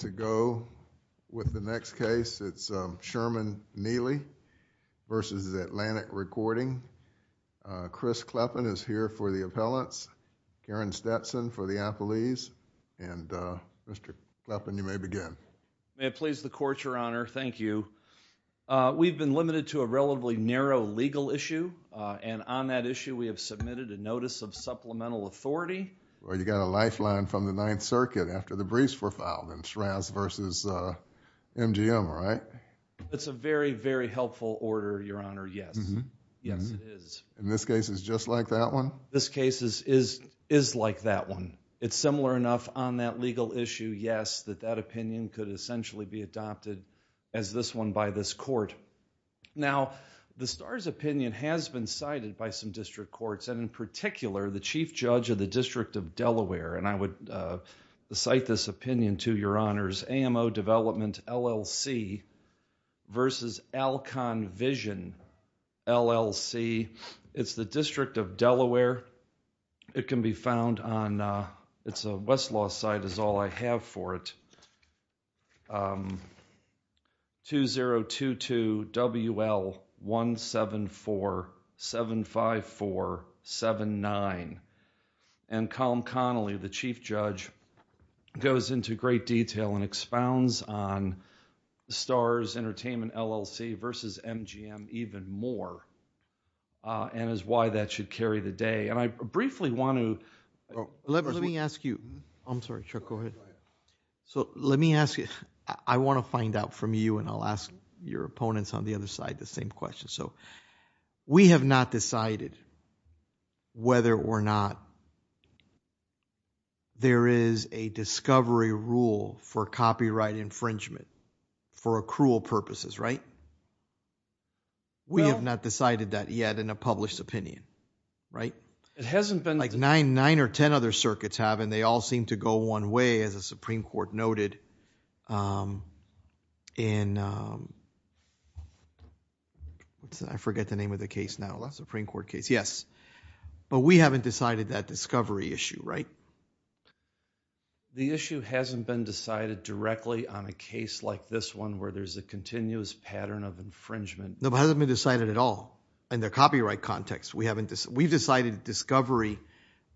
To go with the next case, it's Sherman Nealy v. Atlantic Recording. Chris Kleppen is here for the appellants, Karen Stetson for the appellees, and Mr. Kleppen you may begin. May it please the Court, Your Honor, thank you. We've been limited to a relatively narrow legal issue, and on that issue we have submitted a notice of supplemental authority. Well, you got a lifeline from the Ninth Circuit after the briefs were filed in Shraz v. MGM, right? It's a very, very helpful order, Your Honor, yes, yes it is. And this case is just like that one? This case is like that one. It's similar enough on that legal issue, yes, that that opinion could essentially be adopted as this one by this Court. Now the STARS opinion has been cited by some district courts, and in particular the Chief Judge of the District of Delaware, and I would cite this opinion to Your Honors, AMO Development LLC v. Alcon Vision, LLC. It's the District of Delaware. It can be found on, it's a Westlaw site is all I have for it, 2022 WL17475479. And Colm Connolly, the Chief Judge, goes into great detail and expounds on the STARS Entertainment LLC v. MGM even more, and is why that should carry the day, and I briefly want to... Let me ask you, I'm sorry Chuck, go ahead. So let me ask you, I want to find out from you and I'll ask your opponents on the other side the same question. So we have not decided whether or not there is a discovery rule for copyright infringement for accrual purposes, right? We have not decided that yet in a published opinion, right? It hasn't been... Like nine or ten other circuits have, and they all seem to go one way, as the Supreme I forget the name of the case now, the Supreme Court case, yes. But we haven't decided that discovery issue, right? The issue hasn't been decided directly on a case like this one where there's a continuous pattern of infringement. No, it hasn't been decided at all in the copyright context. We've decided discovery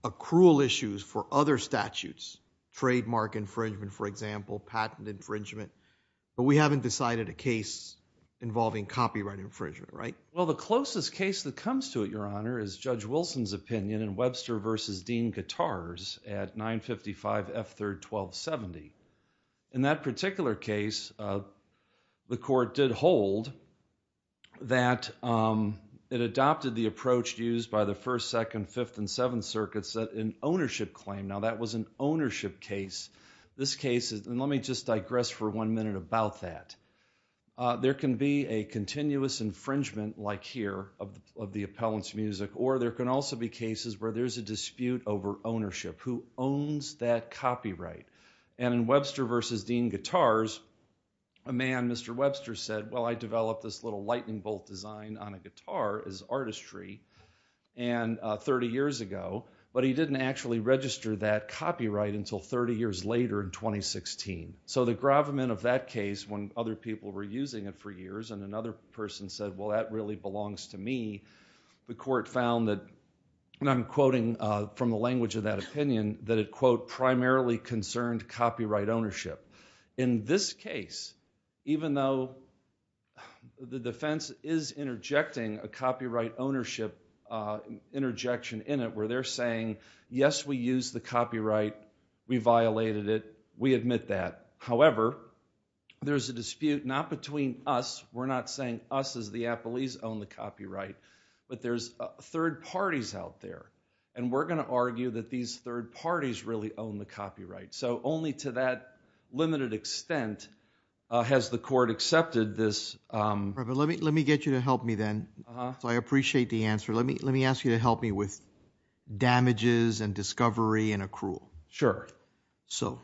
accrual issues for other statutes, trademark infringement, for example, patent infringement, but we haven't decided a case involving copyright infringement, right? Well, the closest case that comes to it, Your Honor, is Judge Wilson's opinion in Webster v. Dean Katars at 955 F. 3rd, 1270. In that particular case, the court did hold that it adopted the approach used by the First, Second, Fifth, and Seventh Circuits that an ownership claim, now that was an ownership case. This case is... and let me just digress for one minute about that. There can be a continuous infringement, like here, of the appellant's music, or there can also be cases where there's a dispute over ownership. Who owns that copyright? And in Webster v. Dean Katars, a man, Mr. Webster, said, well, I developed this little lightning bolt design on a guitar as artistry 30 years ago, but he didn't actually register that copyright until 30 years later in 2016. So the gravamen of that case, when other people were using it for years, and another person said, well, that really belongs to me, the court found that, and I'm quoting from the language of that opinion, that it, quote, primarily concerned copyright ownership. In this case, even though the defense is interjecting a copyright ownership interjection in it where they're saying, yes, we use the copyright, we violated it, we admit that, however, there's a dispute not between us, we're not saying us as the appellees own the copyright, but there's third parties out there, and we're going to argue that these third parties really own the copyright. So only to that limited extent has the court accepted this... Reverend, let me get you to help me then, so I appreciate the answer. Let me ask you to help me with damages and discovery and accrual. Sure. So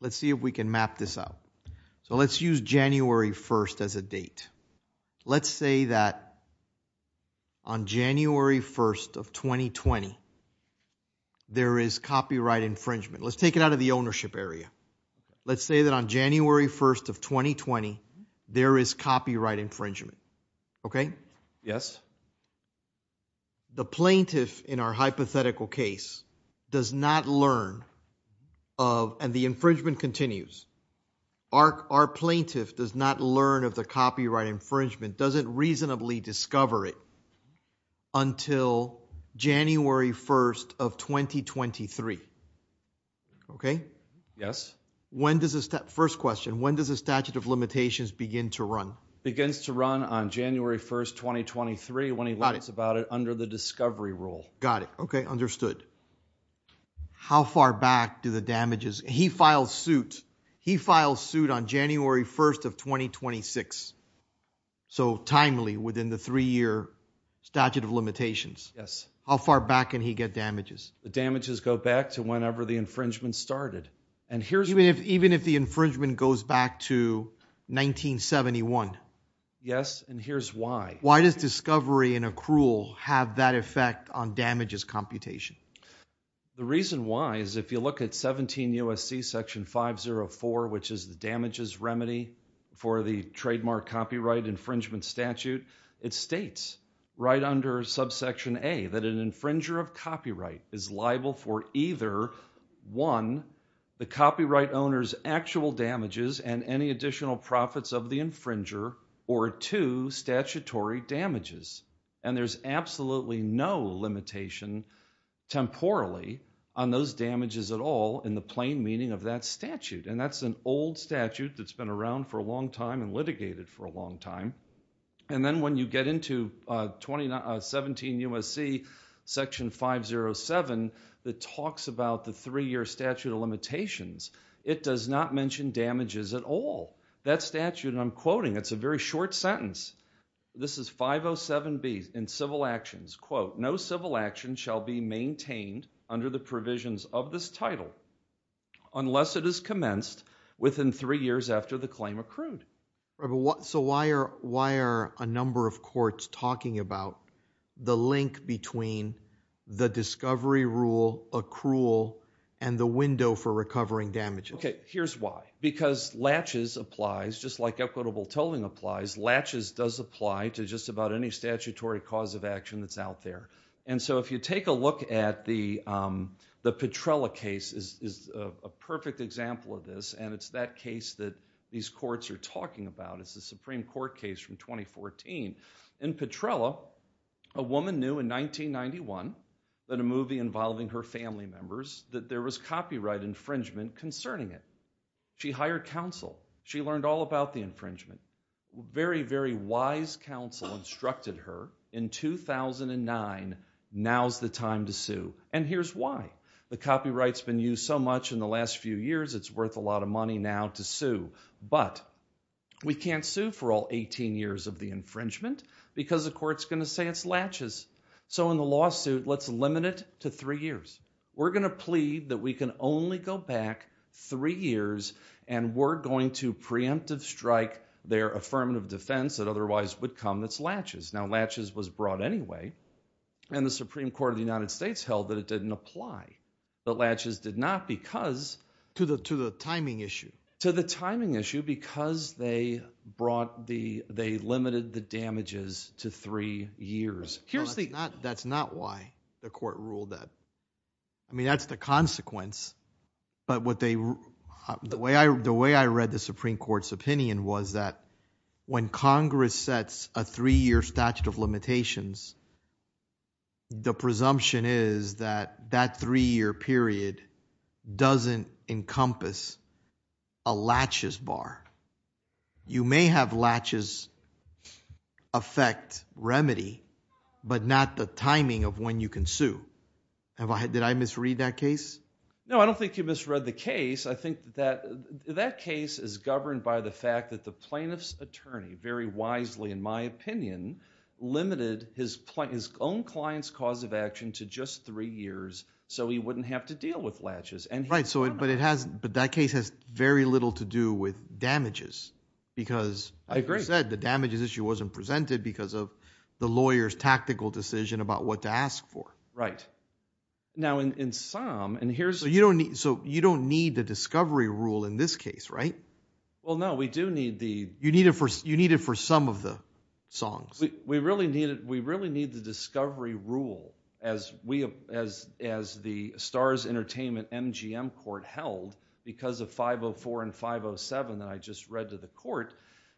let's see if we can map this out. So let's use January 1st as a date. Let's say that on January 1st of 2020, there is copyright infringement. Let's take it out of the ownership area. Let's say that on January 1st of 2020, there is copyright infringement, okay? Yes. The plaintiff in our hypothetical case does not learn of, and the infringement continues, our plaintiff does not learn of the copyright infringement, doesn't reasonably discover it until January 1st of 2023, okay? Yes. When does the statute of limitations begin to run? Begins to run on January 1st, 2023, when he learns about it under the discovery rule. Got it. Okay, understood. How far back do the damages... he files suit on January 1st of 2026. So timely, within the three-year statute of limitations. Yes. How far back can he get damages? The damages go back to whenever the infringement started. And here's... Even if the infringement goes back to 1971? Yes, and here's why. Why does discovery in accrual have that effect on damages computation? The reason why is if you look at 17 U.S.C. section 504, which is the damages remedy for the trademark copyright infringement statute, it states right under subsection A that an infringer is liable for either, one, the copyright owner's actual damages and any additional profits of the infringer, or two, statutory damages. And there's absolutely no limitation, temporally, on those damages at all in the plain meaning of that statute. And that's an old statute that's been around for a long time and litigated for a long time. And then when you get into 17 U.S.C. section 507, that talks about the three-year statute of limitations, it does not mention damages at all. That statute, and I'm quoting, it's a very short sentence. This is 507B in civil actions, quote, no civil action shall be maintained under the provisions of this title unless it is commenced within three years after the claim accrued. So why are a number of courts talking about the link between the discovery rule accrual and the window for recovering damages? Okay, here's why. Because latches applies, just like equitable tolling applies, latches does apply to just about any statutory cause of action that's out there. And so if you take a look at the Petrella case, is a perfect example of this, and it's that case that these courts are talking about, it's the Supreme Court case from 2014. In Petrella, a woman knew in 1991 that a movie involving her family members, that there was copyright infringement concerning it. She hired counsel. She learned all about the infringement. Very, very wise counsel instructed her in 2009, now's the time to sue. And here's why. The copyright's been used so much in the last few years, it's worth a lot of money now to sue, but we can't sue for all 18 years of the infringement because the court's going to say it's latches. So in the lawsuit, let's limit it to three years. We're going to plead that we can only go back three years and we're going to preemptive strike their affirmative defense that otherwise would come that's latches. Now latches was brought anyway, and the Supreme Court of the United States held that it didn't apply. But latches did not because... To the timing issue. To the timing issue because they brought the... they limited the damages to three years. Here's the... That's not why the court ruled that. I mean that's the consequence, but what they... the way I read the Supreme Court's opinion was that when Congress sets a three-year statute of limitations, the presumption is that that three-year period doesn't encompass a latches bar. You may have latches affect remedy, but not the timing of when you can sue. Have I... Did I misread that case? No, I don't think you misread the case. I think that that case is governed by the fact that the plaintiff's attorney, very wisely in my opinion, limited his own client's cause of action to just three years so he wouldn't have to deal with latches. Right, but that case has very little to do with damages because... I agree.... like you said, the damages issue wasn't presented because of the lawyer's tactical decision about what to ask for. Right. Now in SOM, and here's... So you don't need the discovery rule in this case, right? Well, no, we do need the... You need it for some of the songs. We really need the discovery rule as the STARS Entertainment MGM Court held because of 504 and 507 that I just read to the court.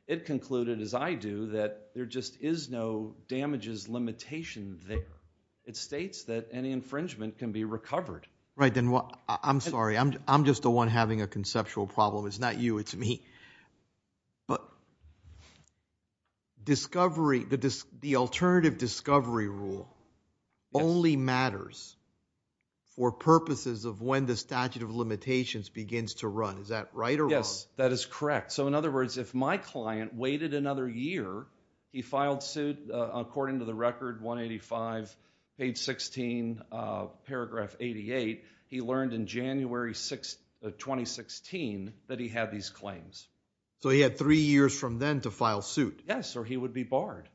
It concluded, as I do, that there just is no damages limitation there. It states that any infringement can be recovered. Right, and I'm sorry, I'm just the one having a conceptual problem. It's not you, it's me. But the alternative discovery rule only matters for purposes of when the statute of limitations begins to run. Is that right or wrong? Yes, that is correct. So in other words, if my client waited another year, he filed suit according to the record 185, page 16, paragraph 88, he learned in January 2016 that he had these claims. So he had three years from then to file suit. Yes, or he would be barred.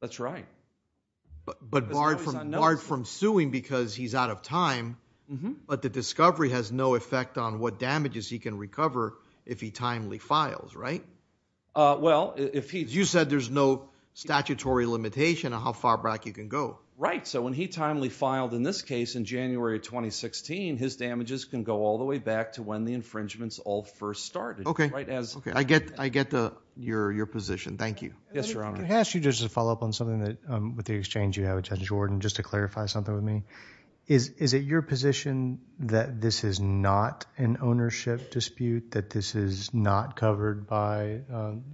That's right. But barred from suing because he's out of time, but the discovery has no effect on what damages he can recover if he timely files, right? Well, if he... You said there's no statutory limitation on how far back you can go. Right, so when he timely filed in this case in January 2016, his damages can go all the way back to when the infringements all first started. Okay, I get your position. Thank you. Yes, Your Honor. Can I ask you just to follow up on something that, with the exchange you have with Judge Wharton, just to clarify something with me? Is it your position that this is not an ownership dispute, that this is not covered by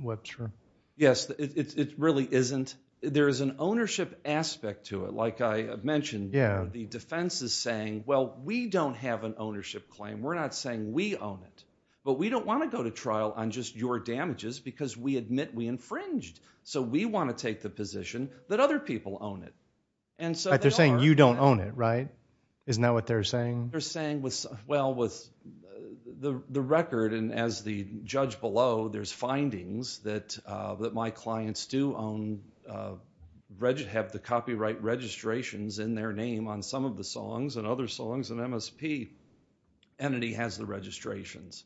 Webster? Yes, it really isn't. There is an ownership aspect to it. Like I mentioned, the defense is saying, well, we don't have an ownership claim. We're not saying we own it. But we don't want to go to trial on just your damages because we admit we infringed. So we want to take the position that other people own it. And so they are... They're saying you don't own it, right? Isn't that what they're saying? They're saying, well, with the record and as the judge below, there's findings that my clients do own, have the copyright registrations in their name on some of the songs and other songs in MSP. Entity has the registrations.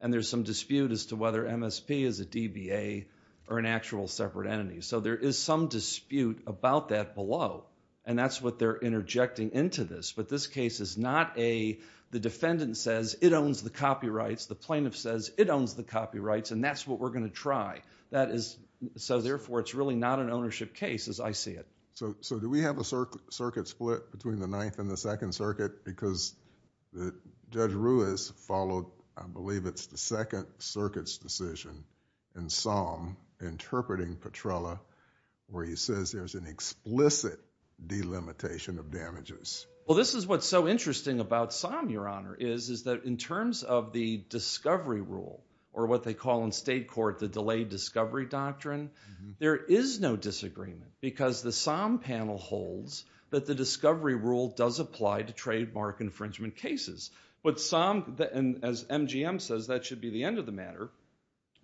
And there's some dispute as to whether MSP is a DBA or an actual separate entity. So there is some dispute about that below. And that's what they're interjecting into this. But this case is not a... The defendant says it owns the copyrights. The plaintiff says it owns the copyrights. And that's what we're going to try. That is... So therefore, it's really not an ownership case as I see it. So do we have a circuit split between the Ninth and the Second Circuit? Because Judge Ruiz followed, I believe it's the Second Circuit's decision in SOM interpreting Petrella where he says there's an explicit delimitation of damages. Well, this is what's so interesting about SOM, Your Honor, is that in terms of the discovery rule or what they call in state court the delayed discovery doctrine, there is no disagreement because the SOM panel holds that the discovery rule does apply to trademark infringement cases. But SOM, as MGM says, that should be the end of the matter.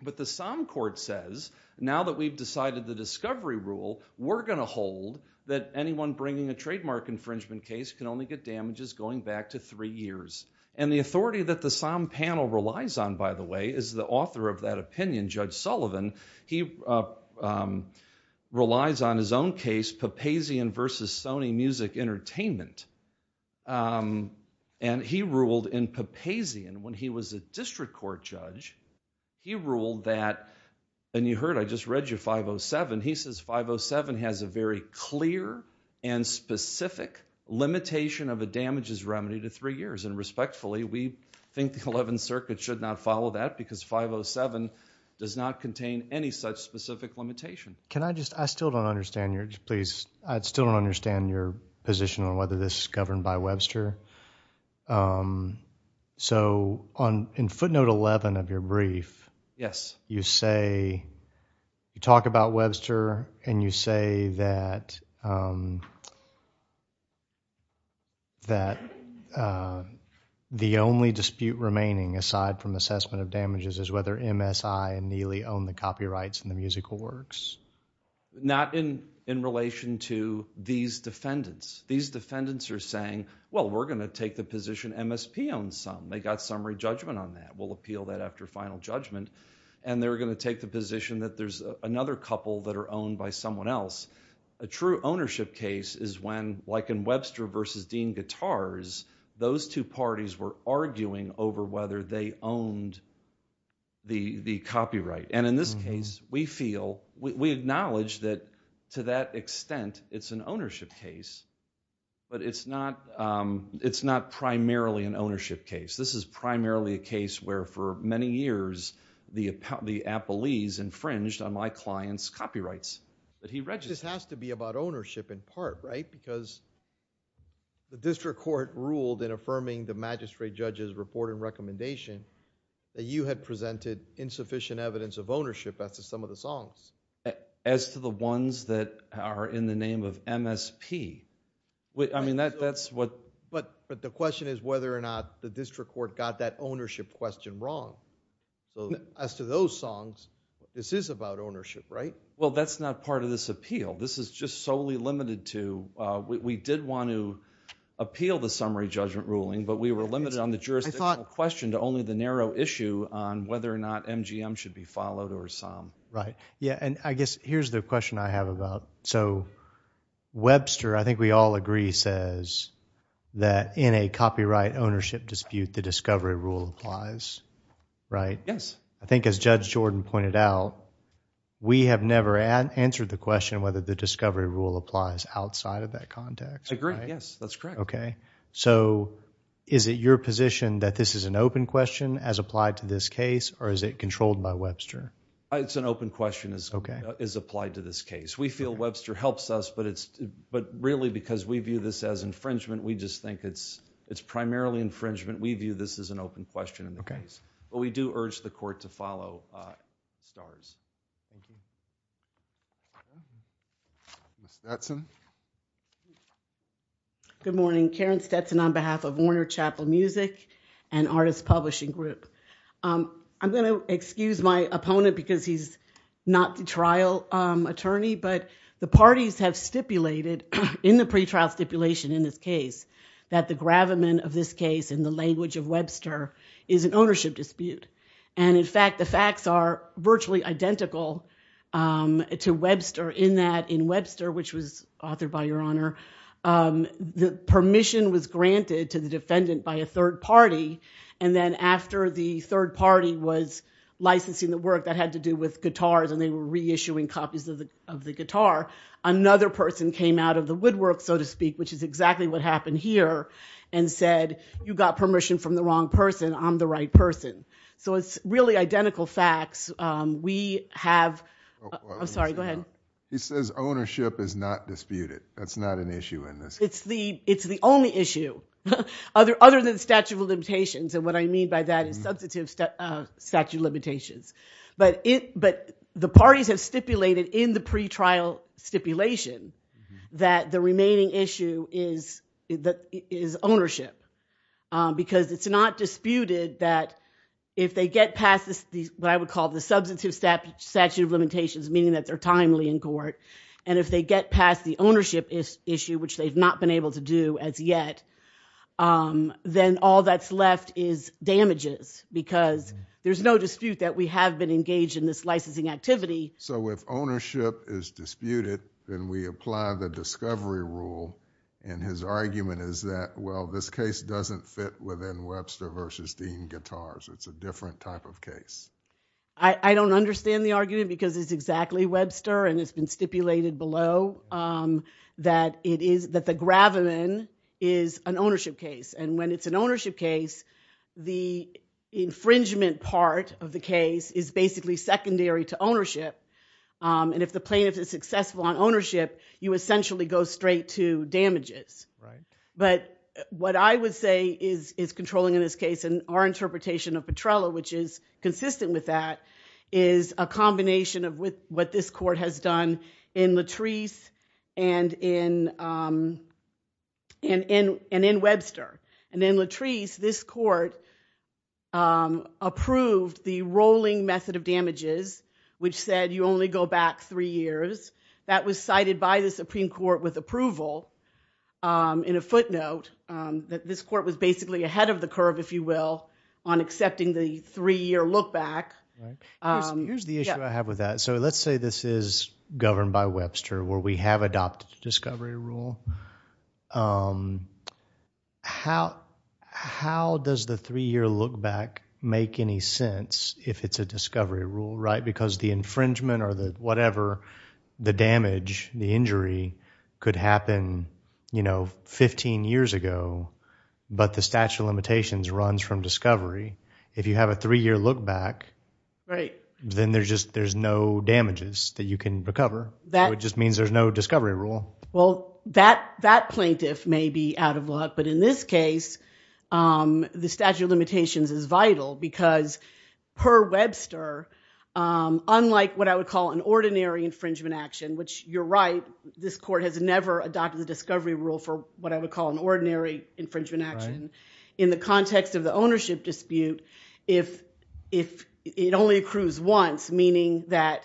But the SOM court says now that we've decided the discovery rule, we're going to hold that anyone bringing a trademark infringement case can only get damages going back to three years. And the authority that the SOM panel relies on, by the way, is the author of that opinion, Judge Sullivan. He relies on his own case, Papazian versus Sony Music Entertainment. And he ruled in Papazian when he was a district court judge, he ruled that, and you heard I just read you 507, he says 507 has a very clear and specific limitation of a damages remedy to three years. And respectfully, we think the Eleventh Circuit should not follow that because 507 does not contain any such specific limitation. Can I just, I still don't understand your, please, I still don't understand your position on whether this is governed by Webster. So in footnote 11 of your brief. Yes. You say, you talk about Webster and you say that the only dispute remaining aside from assessment of damages is whether MSI and Neely own the copyrights in the musical works. Not in relation to these defendants. These defendants are saying, well, we're going to take the position MSP owns some. They got summary judgment on that. We'll appeal that after final judgment. And they're going to take the position that there's another couple that are owned by someone else. A true ownership case is when, like in Webster versus Dean Guitars, those two parties were arguing over whether they owned the copyright. And in this case, we feel, we acknowledge that to that extent, it's an ownership case. But it's not primarily an ownership case. This is primarily a case where for many years, the appellees infringed on my client's copyrights that he registered. This has to be about ownership in part, right? Because the district court ruled in affirming the magistrate judge's report and recommendation that you had presented insufficient evidence of ownership as to some of the songs. As to the ones that are in the name of MSP. I mean, that's what... But the question is whether or not the district court got that ownership question wrong. As to those songs, this is about ownership, right? Well, that's not part of this appeal. This is just solely limited to, we did want to appeal the summary judgment ruling, but we were limited on the jurisdictional question to only the narrow issue on whether or not MGM should be followed or some. Right. Yeah, and I guess here's the question I have about. So Webster, I think we all agree, says that in a copyright ownership dispute, the discovery rule applies, right? Yes. I think as Judge Jordan pointed out, we have never answered the question whether the discovery rule applies outside of that context. I agree. Yes, that's correct. Okay. So, is it your position that this is an open question as applied to this case, or is it controlled by Webster? It's an open question as applied to this case. We feel Webster helps us, but really because we view this as infringement, we just think it's primarily infringement. We view this as an open question in the case. But we do urge the court to follow STARS. Thank you. Thank you. Karen Stetson. Good morning. Karen Stetson on behalf of Warner Chapel Music and Artists Publishing Group. I'm going to excuse my opponent because he's not the trial attorney, but the parties have stipulated in the pretrial stipulation in this case that the gravamen of this case in the language of Webster is an ownership dispute. And in fact, the facts are virtually identical to Webster in that in Webster, which was authored by Your Honor, the permission was granted to the defendant by a third party, and then after the third party was licensing the work that had to do with guitars and they were reissuing copies of the guitar, another person came out of the woodwork, so to speak, which is exactly what happened here, and said, you got permission from the wrong person, I'm the right person. So it's really identical facts. We have... I'm sorry. Go ahead. He says ownership is not disputed. That's not an issue in this case. It's the only issue other than statute of limitations. And what I mean by that is substantive statute of limitations. But the parties have stipulated in the pretrial stipulation that the remaining issue is ownership. Because it's not disputed that if they get past what I would call the substantive statute of limitations, meaning that they're timely in court, and if they get past the ownership issue, which they've not been able to do as yet, then all that's left is damages. Because there's no dispute that we have been engaged in this licensing activity. So if ownership is disputed, then we apply the discovery rule, and his argument is that, well, this case doesn't fit within Webster versus Dean-Guitars. It's a different type of case. I don't understand the argument, because it's exactly Webster, and it's been stipulated below that the Graveman is an ownership case. And when it's an ownership case, the infringement part of the case is basically secondary to ownership. And if the plaintiff is successful on ownership, you essentially go straight to damages. But what I would say is controlling in this case, and our interpretation of Petrella, which is consistent with that, is a combination of what this court has done in Latrice and in Webster. And in Latrice, this court approved the rolling method of damages, which said you only go back three years. That was cited by the Supreme Court with approval in a footnote that this court was basically ahead of the curve, if you will, on accepting the three-year look back. Here's the issue I have with that. So let's say this is governed by Webster, where we have adopted the discovery rule. How does the three-year look back make any sense if it's a discovery rule, right? Because the infringement or whatever, the damage, the injury, could happen 15 years ago, but the statute of limitations runs from discovery. If you have a three-year look back, then there's just no damages that you can recover. So it just means there's no discovery rule. Well, that plaintiff may be out of luck. But in this case, the statute of limitations is vital, because per Webster, unlike what I would call an ordinary infringement action, which you're right, this court has never adopted the discovery rule for what I would call an ordinary infringement action, in the context of the ownership dispute, if it only accrues once, meaning that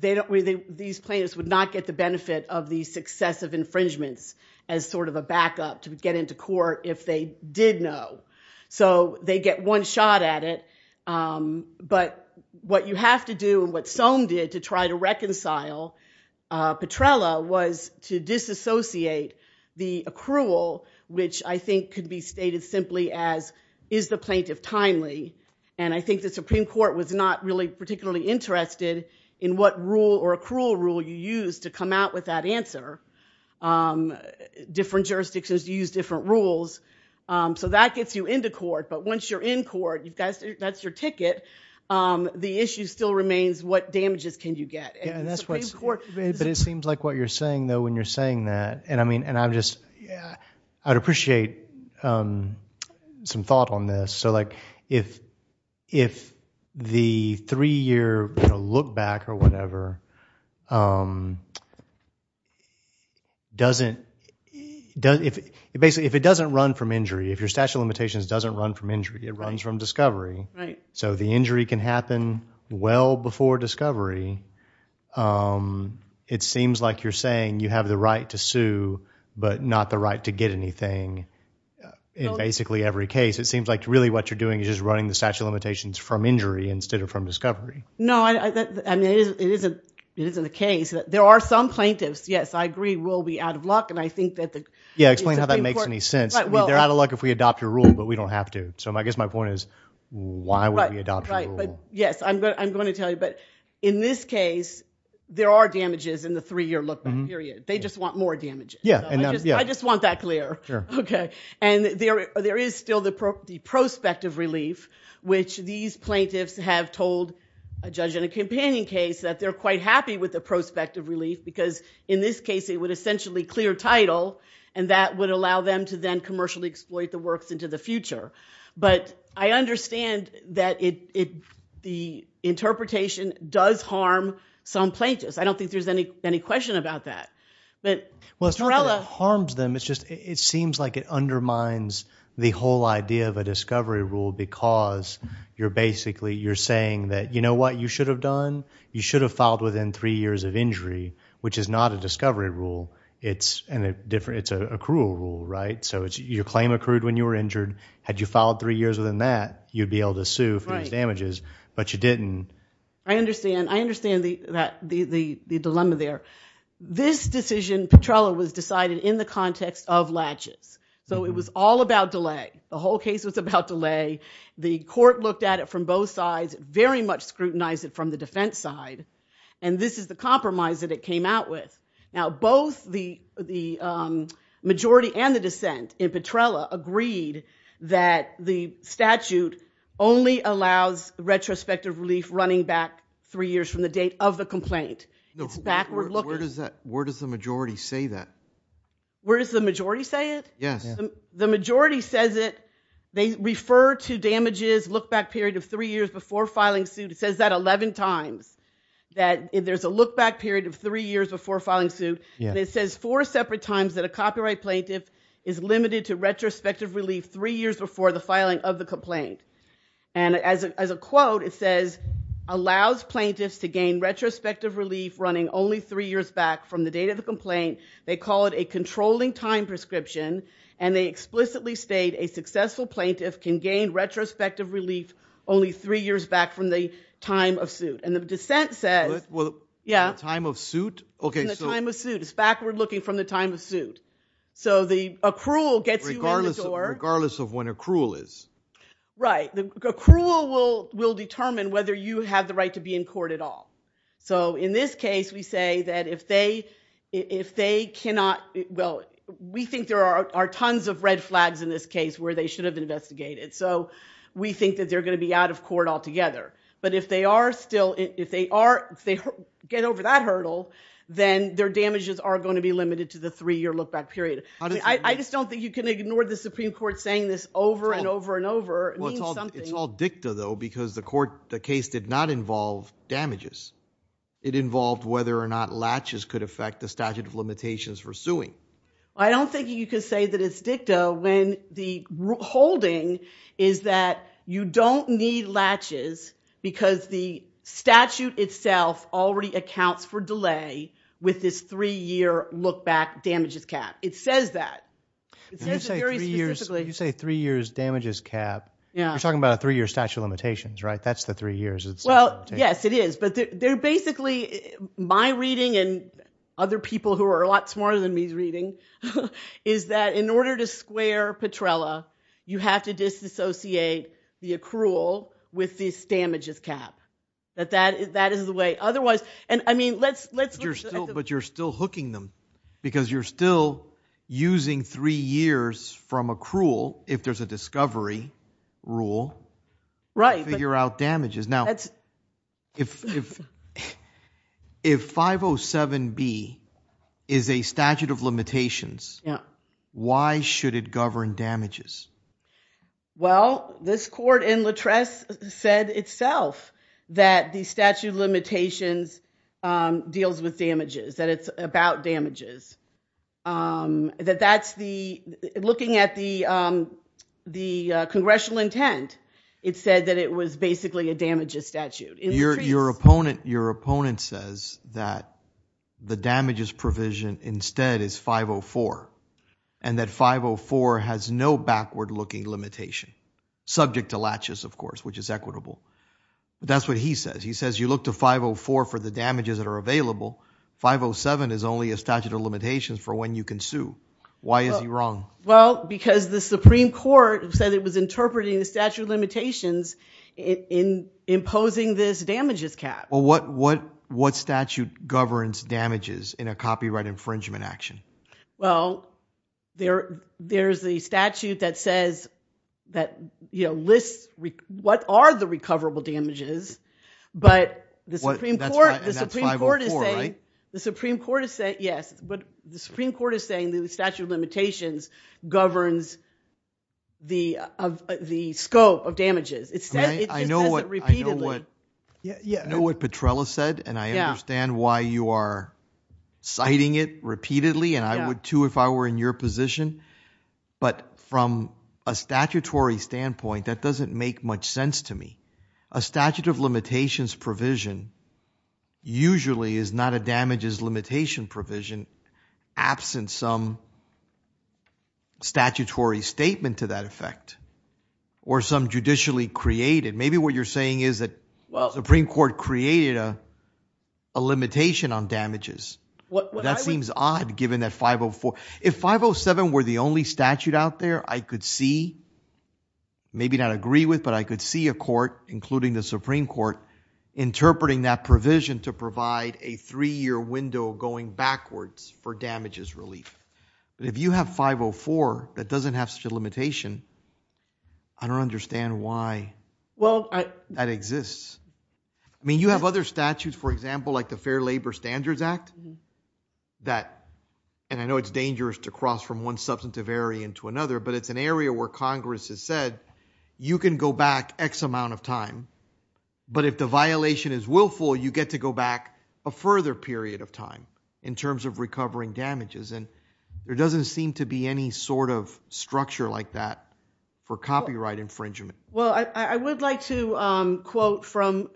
these plaintiffs would not get the benefit of the success of infringements as sort of a backup to get into court if they did know. So they get one shot at it. But what you have to do, and what Soam did to try to reconcile Petrella, was to disassociate the accrual, which I think could be stated simply as, is the plaintiff timely? And I think the Supreme Court was not really particularly interested in what rule or accrual rule you use to come out with that answer. Different jurisdictions use different rules. So that gets you into court. But once you're in court, that's your ticket. The issue still remains, what damages can you get? And the Supreme Court But it seems like what you're saying, though, when you're saying that. And I mean, and I'm just, I'd appreciate some thought on this. So like, if the three year look back or whatever, doesn't, basically, if it doesn't run from injury, if your statute of limitations doesn't run from injury, it runs from discovery. So the injury can happen well before discovery. It seems like you're saying you have the right to sue, but not the right to get anything in basically every case. It seems like really what you're doing is just running the statute of limitations from injury instead of from discovery. No, I mean, it isn't the case. There are some plaintiffs, yes, I agree, will be out of luck. And I think that the Supreme Court Yeah, explain how that makes any sense. They're out of luck if we adopt your rule, but we don't have to. So I guess my point is, why would we adopt your rule? Yes, I'm going to tell you. But in this case, there are damages in the three year look back period. They just want more damages. I just want that clear. And there is still the prospective relief, which these plaintiffs have told a judge in a companion case that they're quite happy with the prospective relief because in this case, it would essentially clear title, and that would allow them to then commercially exploit the works into the future. But I understand that the interpretation does harm some plaintiffs. I don't think there's any question about that. Well, it's not that it harms them, it's just it seems like it undermines the whole idea of a discovery rule because you're basically saying that, you know what, you should have done? You should have filed within three years of injury, which is not a discovery rule. It's a cruel rule, right? So your claim accrued when you were injured. Had you filed three years within that, you'd be able to sue for these damages, but you didn't. I understand. I understand the dilemma there. This decision, Petrella, was decided in the context of latches. So it was all about delay. The whole case was about delay. The court looked at it from both sides, very much scrutinized it from the defense side. And this is the compromise that it came out with. Now, both the majority and the dissent in Petrella agreed that the statute only allows retrospective relief running back three years from the date of the complaint. It's backward looking. Where does the majority say that? Where does the majority say it? Yes. The majority says it. They refer to damages, look back period of three years before filing suit. It says that 11 times, that there's a look back period of three years before filing suit. It says four separate times that a copyright plaintiff is limited to retrospective relief three years before the filing of the complaint. And as a quote, it says, allows plaintiffs to gain retrospective relief running only three years back from the date of the complaint. They call it a controlling time prescription. And they explicitly state, a successful plaintiff can gain retrospective relief only three years back from the time of suit. And the dissent says, yeah. The time of suit? In the time of suit. It's backward looking from the time of suit. So the accrual gets you in the door. Regardless of when accrual is. Right. Accrual will determine whether you have the right to be in court at all. So in this case, we say that if they cannot, well, we think there are tons of red flags in this case where they should have investigated. So we think that they're going to be out of court altogether. But if they are still, if they get over that hurdle, then their damages are going to be limited to the three year look back period. I just don't think you can ignore the Supreme Court saying this over and over and over. It means something. It's all dicta, though, because the court, the case did not involve damages. It involved whether or not latches could affect the statute of limitations for suing. I don't think you can say that it's dicta when the holding is that you don't need latches because the statute itself already accounts for delay with this three year look back damages cap. It says that. It says it very specifically. You say three years damages cap. You're talking about a three year statute of limitations, right? That's the three years. Well, yes, it is. But they're basically, my reading and other people who are a lot smarter than me reading, is that in order to square Petrella, you have to disassociate the accrual with this damages cap. That is the way. Otherwise, and I mean, let's look at the- But you're still hooking them. Because you're still using three years from accrual if there's a discovery rule to figure out damages. Now, if 507B is a statute of limitations, why should it govern damages? Well, this court in Latress said itself that the statute of limitations deals with damages, that it's about damages. That that's the, looking at the congressional intent, it said that it was basically a damages statute. Your opponent says that the damages provision instead is 504, and that 504 has no backward looking limitation, subject to latches, of course, which is equitable. That's what he says. He says you look to 504 for the damages that are available. 507 is only a statute of limitations for when you can sue. Why is he wrong? Well, because the Supreme Court said it was interpreting the statute of limitations in imposing this damages cap. Well, what statute governs damages in a copyright infringement action? Well, there's the statute that says, that lists, what are the recoverable damages? But the Supreme Court is saying- And that's 504, right? The Supreme Court is saying, yes. But the Supreme Court is saying the statute of limitations governs the scope of damages. It says it repeatedly. I know what Petrella said, and I understand why you are citing it repeatedly. And I would, too, if I were in your position. But from a statutory standpoint, that doesn't make much sense to me. A statute of limitations provision usually is not a damages limitation provision absent some statutory statement to that effect or some judicially created. Maybe what you're saying is that the Supreme Court created a limitation on damages. That seems odd, given that 504. If 507 were the only statute out there, I could see, maybe not agree with, but I could see a court, including the Supreme Court, interpreting that provision to provide a three-year window going backwards for damages relief. But if you have 504 that doesn't have such a limitation, I don't understand why that exists. I mean, you have other statutes, for example, like the Fair Labor Standards Act that, and I know it's dangerous to cross from one substantive area into another, but it's an area where Congress has said, you can go back x amount of time. But if the violation is willful, you get to go back a further period of time in terms of recovering damages. And there doesn't seem to be any sort of structure like that for copyright infringement. Well, I would like to quote from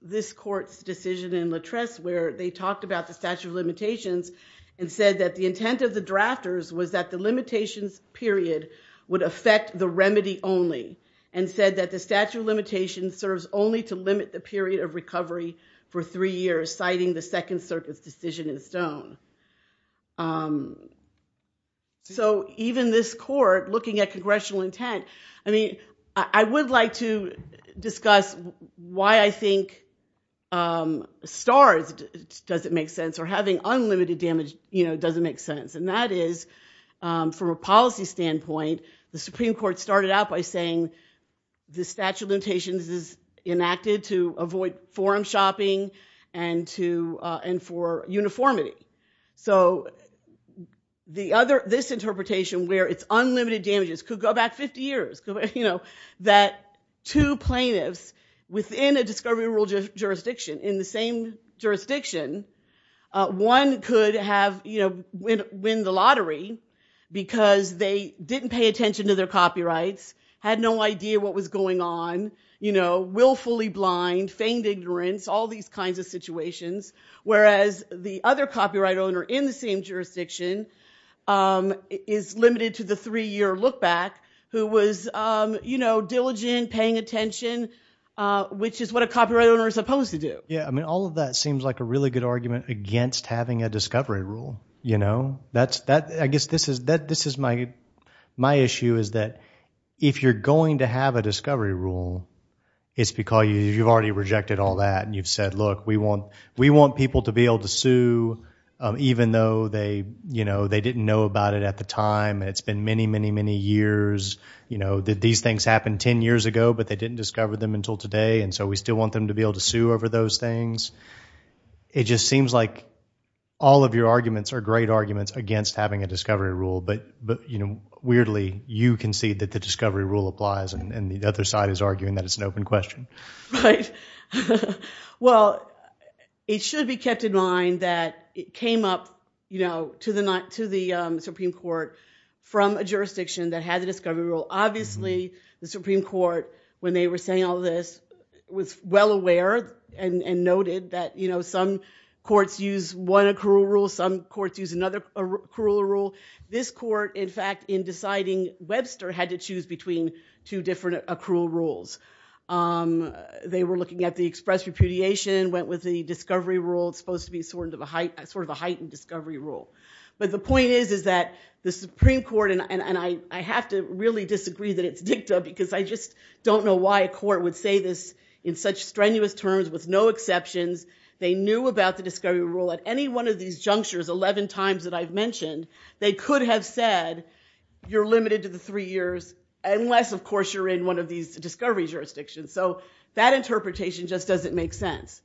this court's decision in Latresse where they talked about the statute of limitations and said that the intent of the drafters was that the limitations period would affect the remedy only and said that the statute of limitations serves only to limit the period of recovery for three years, citing the Second Circuit's decision in Stone. So even this court, looking at congressional intent, I mean, I would like to discuss why I think STARS doesn't make sense or having unlimited damage doesn't make sense. And that is, from a policy standpoint, the Supreme Court started out by saying the statute of limitations is enacted to avoid forum shopping and for uniformity. So this interpretation, where it's unlimited damages, could go back 50 years, that two plaintiffs within a discovery rule jurisdiction in the same jurisdiction, one could win the lottery because they didn't pay attention to their copyrights, had no idea what was going on, willfully blind, feigned ignorance, all these kinds of situations, whereas the other copyright owner in the same jurisdiction is limited to the three-year lookback, who was diligent, paying attention, which is what a copyright owner is supposed to do. Yeah, I mean, all of that seems like a really good argument against having a discovery rule. That's, I guess, this is my issue, is that if you're going to have a discovery rule, it's because you've already rejected all that. And you've said, look, we want people to be able to sue, even though they didn't know about it at the time. And it's been many, many, many years. These things happened 10 years ago, but they didn't discover them until today. And so we still want them to be able to sue over those things. It just seems like all of your arguments are great arguments against having a discovery rule. But weirdly, you concede that the discovery rule applies, and the other side is arguing that it's an open question. Right. Well, it should be kept in mind that it came up to the Supreme Court from a jurisdiction that had the discovery rule. Obviously, the Supreme Court, when they were saying all this, was well aware and noted that some courts use one accrual rule, some courts use another accrual rule. This court, in fact, in deciding Webster had to choose between two different accrual rules. They were looking at the express repudiation, went with the discovery rule. It's supposed to be sort of a heightened discovery rule. But the point is that the Supreme Court, and I have to really disagree that it's dicta, because I just don't know why a court would say this in such strenuous terms with no exceptions. They knew about the discovery rule at any one of these junctures 11 times that I've mentioned. They could have said, you're limited to the three years, unless, of course, you're in one of these discovery jurisdictions. So that interpretation just doesn't make sense.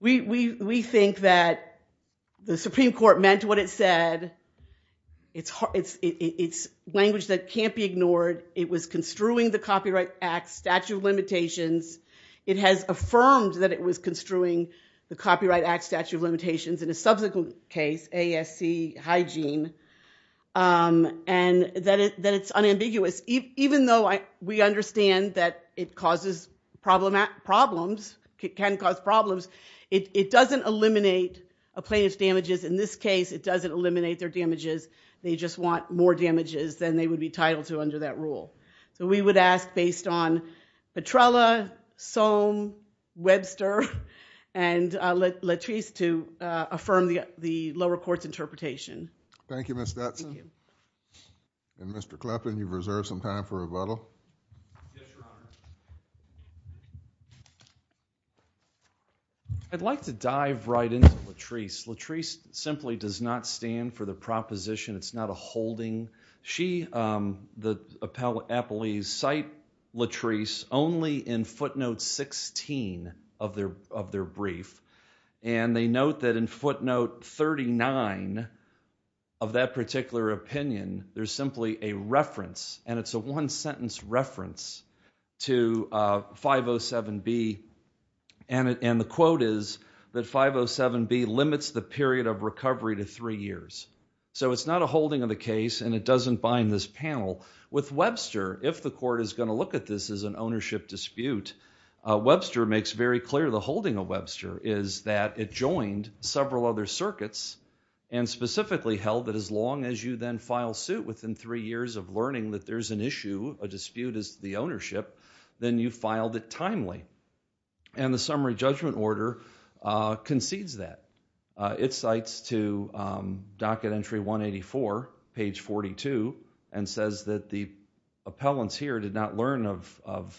We think that the Supreme Court meant what it said. It's language that can't be ignored. It was construing the Copyright Act statute of limitations. It has affirmed that it was construing the Copyright Act statute of limitations in a subsequent case, ASC Hygiene, Even if it's not, it's not ambiguous. Even though we understand that it can cause problems, it doesn't eliminate a plaintiff's damages. In this case, it doesn't eliminate their damages. They just want more damages than they would be titled to under that rule. So we would ask, based on Petrella, Sohm, Webster, and Latrice, to affirm the lower court's interpretation. Thank you, Ms. Stetson. And Mr. Kleppan, you've reserved some time for rebuttal. I'd like to dive right into Latrice. Latrice simply does not stand for the proposition. It's not a holding. She, the appellees, cite Latrice only in footnote 16 of their brief. And they note that in footnote 39 of that particular opinion, there's simply a reference. And it's a one-sentence reference to 507B. And the quote is that 507B limits the period of recovery to three years. So it's not a holding of the case, and it doesn't bind this panel. With Webster, if the court is going to look at this as an ownership dispute, Webster makes very clear the holding of Webster is that it joined several other circuits and specifically held that as long as you then file suit within three years of learning that there's an issue, a dispute is the ownership, then you filed it timely. And the summary judgment order concedes that. It cites to docket entry 184, page 42, and says that the appellants here did not learn of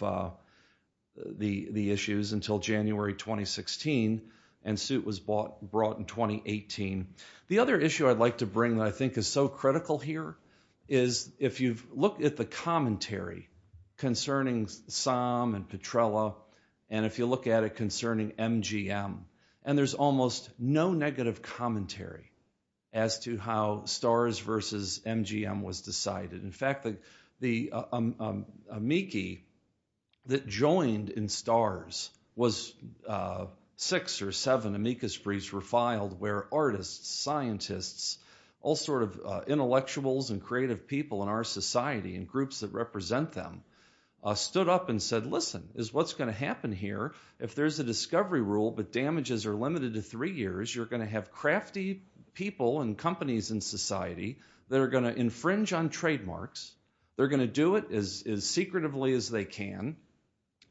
the issues until January 2016, and suit was brought in 2018. The other issue I'd like to bring that I think is so critical here is if you've looked at the commentary concerning Psalm and Petrella, and if you look at it concerning MGM, and there's almost no negative commentary as to how STARS versus MGM was decided. In fact, the amici that joined in STARS was six or seven amicus briefs were filed where artists, scientists, all sort of intellectuals and creative people in our society and groups that represent them stood up and said, listen, is what's gonna happen here if there's a discovery rule but damages are limited to three years, you're gonna have crafty people and companies in society that are gonna infringe on trademarks, they're gonna do it as secretively as they can,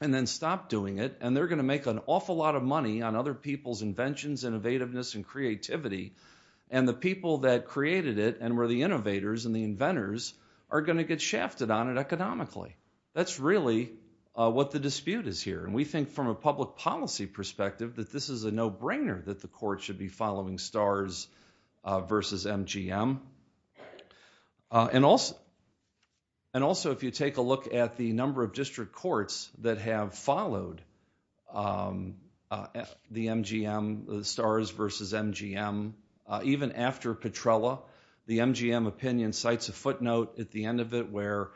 and then stop doing it, and they're gonna make an awful lot of money on other people's inventions, innovativeness and creativity, and the people that created it and were the innovators and the inventors are gonna get shafted on it economically. That's really what the dispute is here, and we think from a public policy perspective that this is a no-brainer that the court should be following STARS versus MGM. And also, if you take a look at the number of district courts that have followed the MGM, STARS versus MGM, even after Petrella, the MGM opinion cites a footnote at the end of it where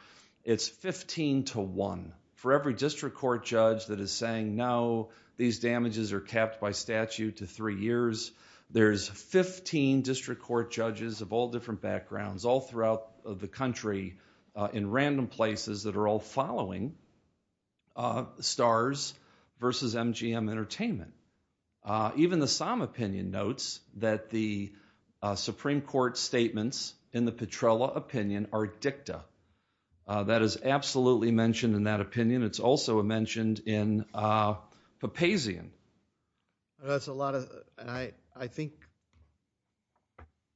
it's 15 to one. For every district court judge that is saying, no, these damages are capped by statute to three years, there's 15 district court judges of all different backgrounds, all throughout the country in random places that are all following STARS versus MGM Entertainment. Even the SOM opinion notes that the Supreme Court statements in the Petrella opinion are dicta. That is absolutely mentioned in that opinion. It's also mentioned in Papazian. That's a lot of, and I think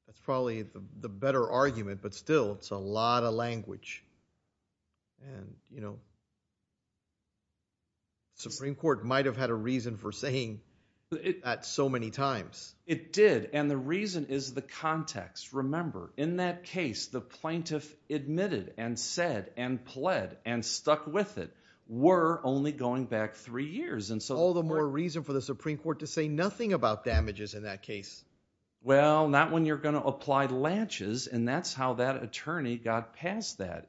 that's probably the better argument, but still, it's a lot of language. And, you know, Supreme Court might have had a reason for saying that so many times. It did, and the reason is the context. Remember, in that case, the plaintiff admitted and said and pled and stuck with it were only going back three years. And so- All the more reason for the Supreme Court to say nothing about damages in that case. Well, not when you're gonna apply lanches, and that's how that attorney got past that.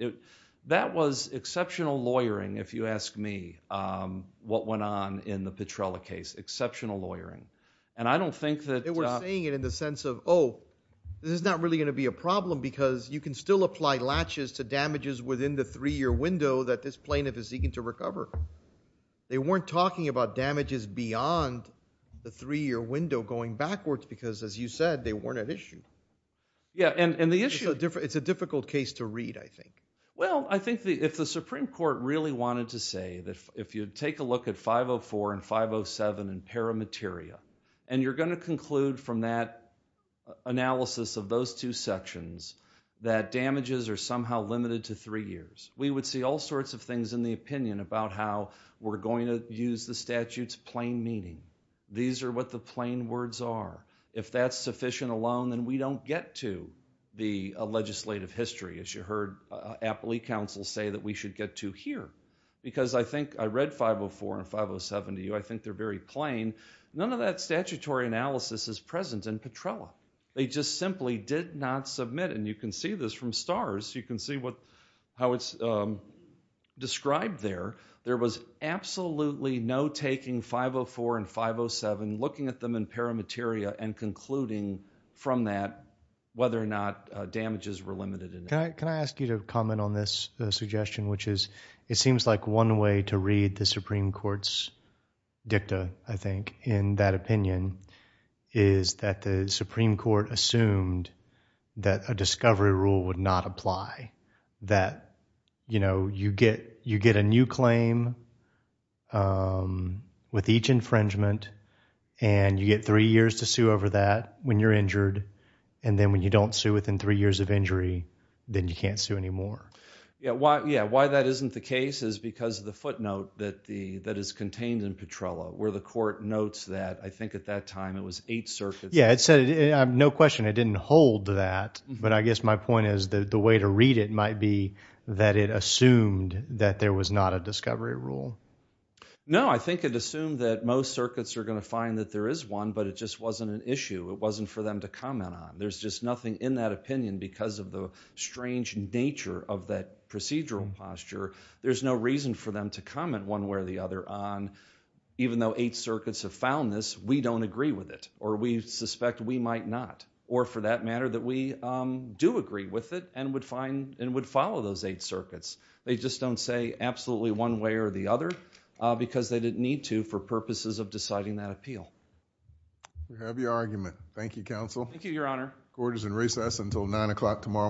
That was exceptional lawyering, if you ask me, what went on in the Petrella case, exceptional lawyering. And I don't think that- They were saying it in the sense of, oh, this is not really gonna be a problem because you can still apply latches to damages within the three-year window that this plaintiff is seeking to recover. They weren't talking about damages beyond the three-year window going backwards because, as you said, they weren't at issue. Yeah, and the issue- It's a difficult case to read, I think. Well, I think if the Supreme Court really wanted to say that if you take a look at 504 and 507 in paramateria, and you're gonna conclude from that analysis of those two sections that damages are somehow limited to three years, we would see all sorts of things in the opinion about how we're going to use the statute's plain meaning. These are what the plain words are. If that's sufficient alone, then we don't get to the legislative history, as you heard Appley Council say that we should get to here, because I think I read 504 and 507 to you. I think they're very plain. None of that statutory analysis is present in Petrella. They just simply did not submit, and you can see this from STARS. You can see how it's described there. There was absolutely no taking 504 and 507, looking at them in paramateria and concluding from that whether or not damages were limited. Can I ask you to comment on this suggestion, which is it seems like one way to read the Supreme Court's dicta, I think, in that opinion is that the Supreme Court assumed that a discovery rule would not apply, that you get a new claim with each infringement, and you get three years to sue over that when you're injured, and then when you don't sue within three years of injury, then you can't sue anymore. Yeah, why that isn't the case is because of the footnote that is contained in Petrella, where the court notes that, I think at that time, it was eight circuits. Yeah, it said, no question, it didn't hold that, but I guess my point is that the way to read it might be that it assumed that there was not a discovery rule. No, I think it assumed that most circuits are gonna find that there is one, but it just wasn't an issue. It wasn't for them to comment on. There's just nothing in that opinion because of the strange nature of that procedural posture. There's no reason for them to comment one way or the other on even though eight circuits have found this, we don't agree with it, or we suspect we might not, or for that matter, that we do agree with it and would follow those eight circuits. They just don't say absolutely one way or the other because they didn't need to for purposes of deciding that appeal. You have your argument. Thank you, counsel. Thank you, your honor. Court is in recess until nine o'clock tomorrow morning.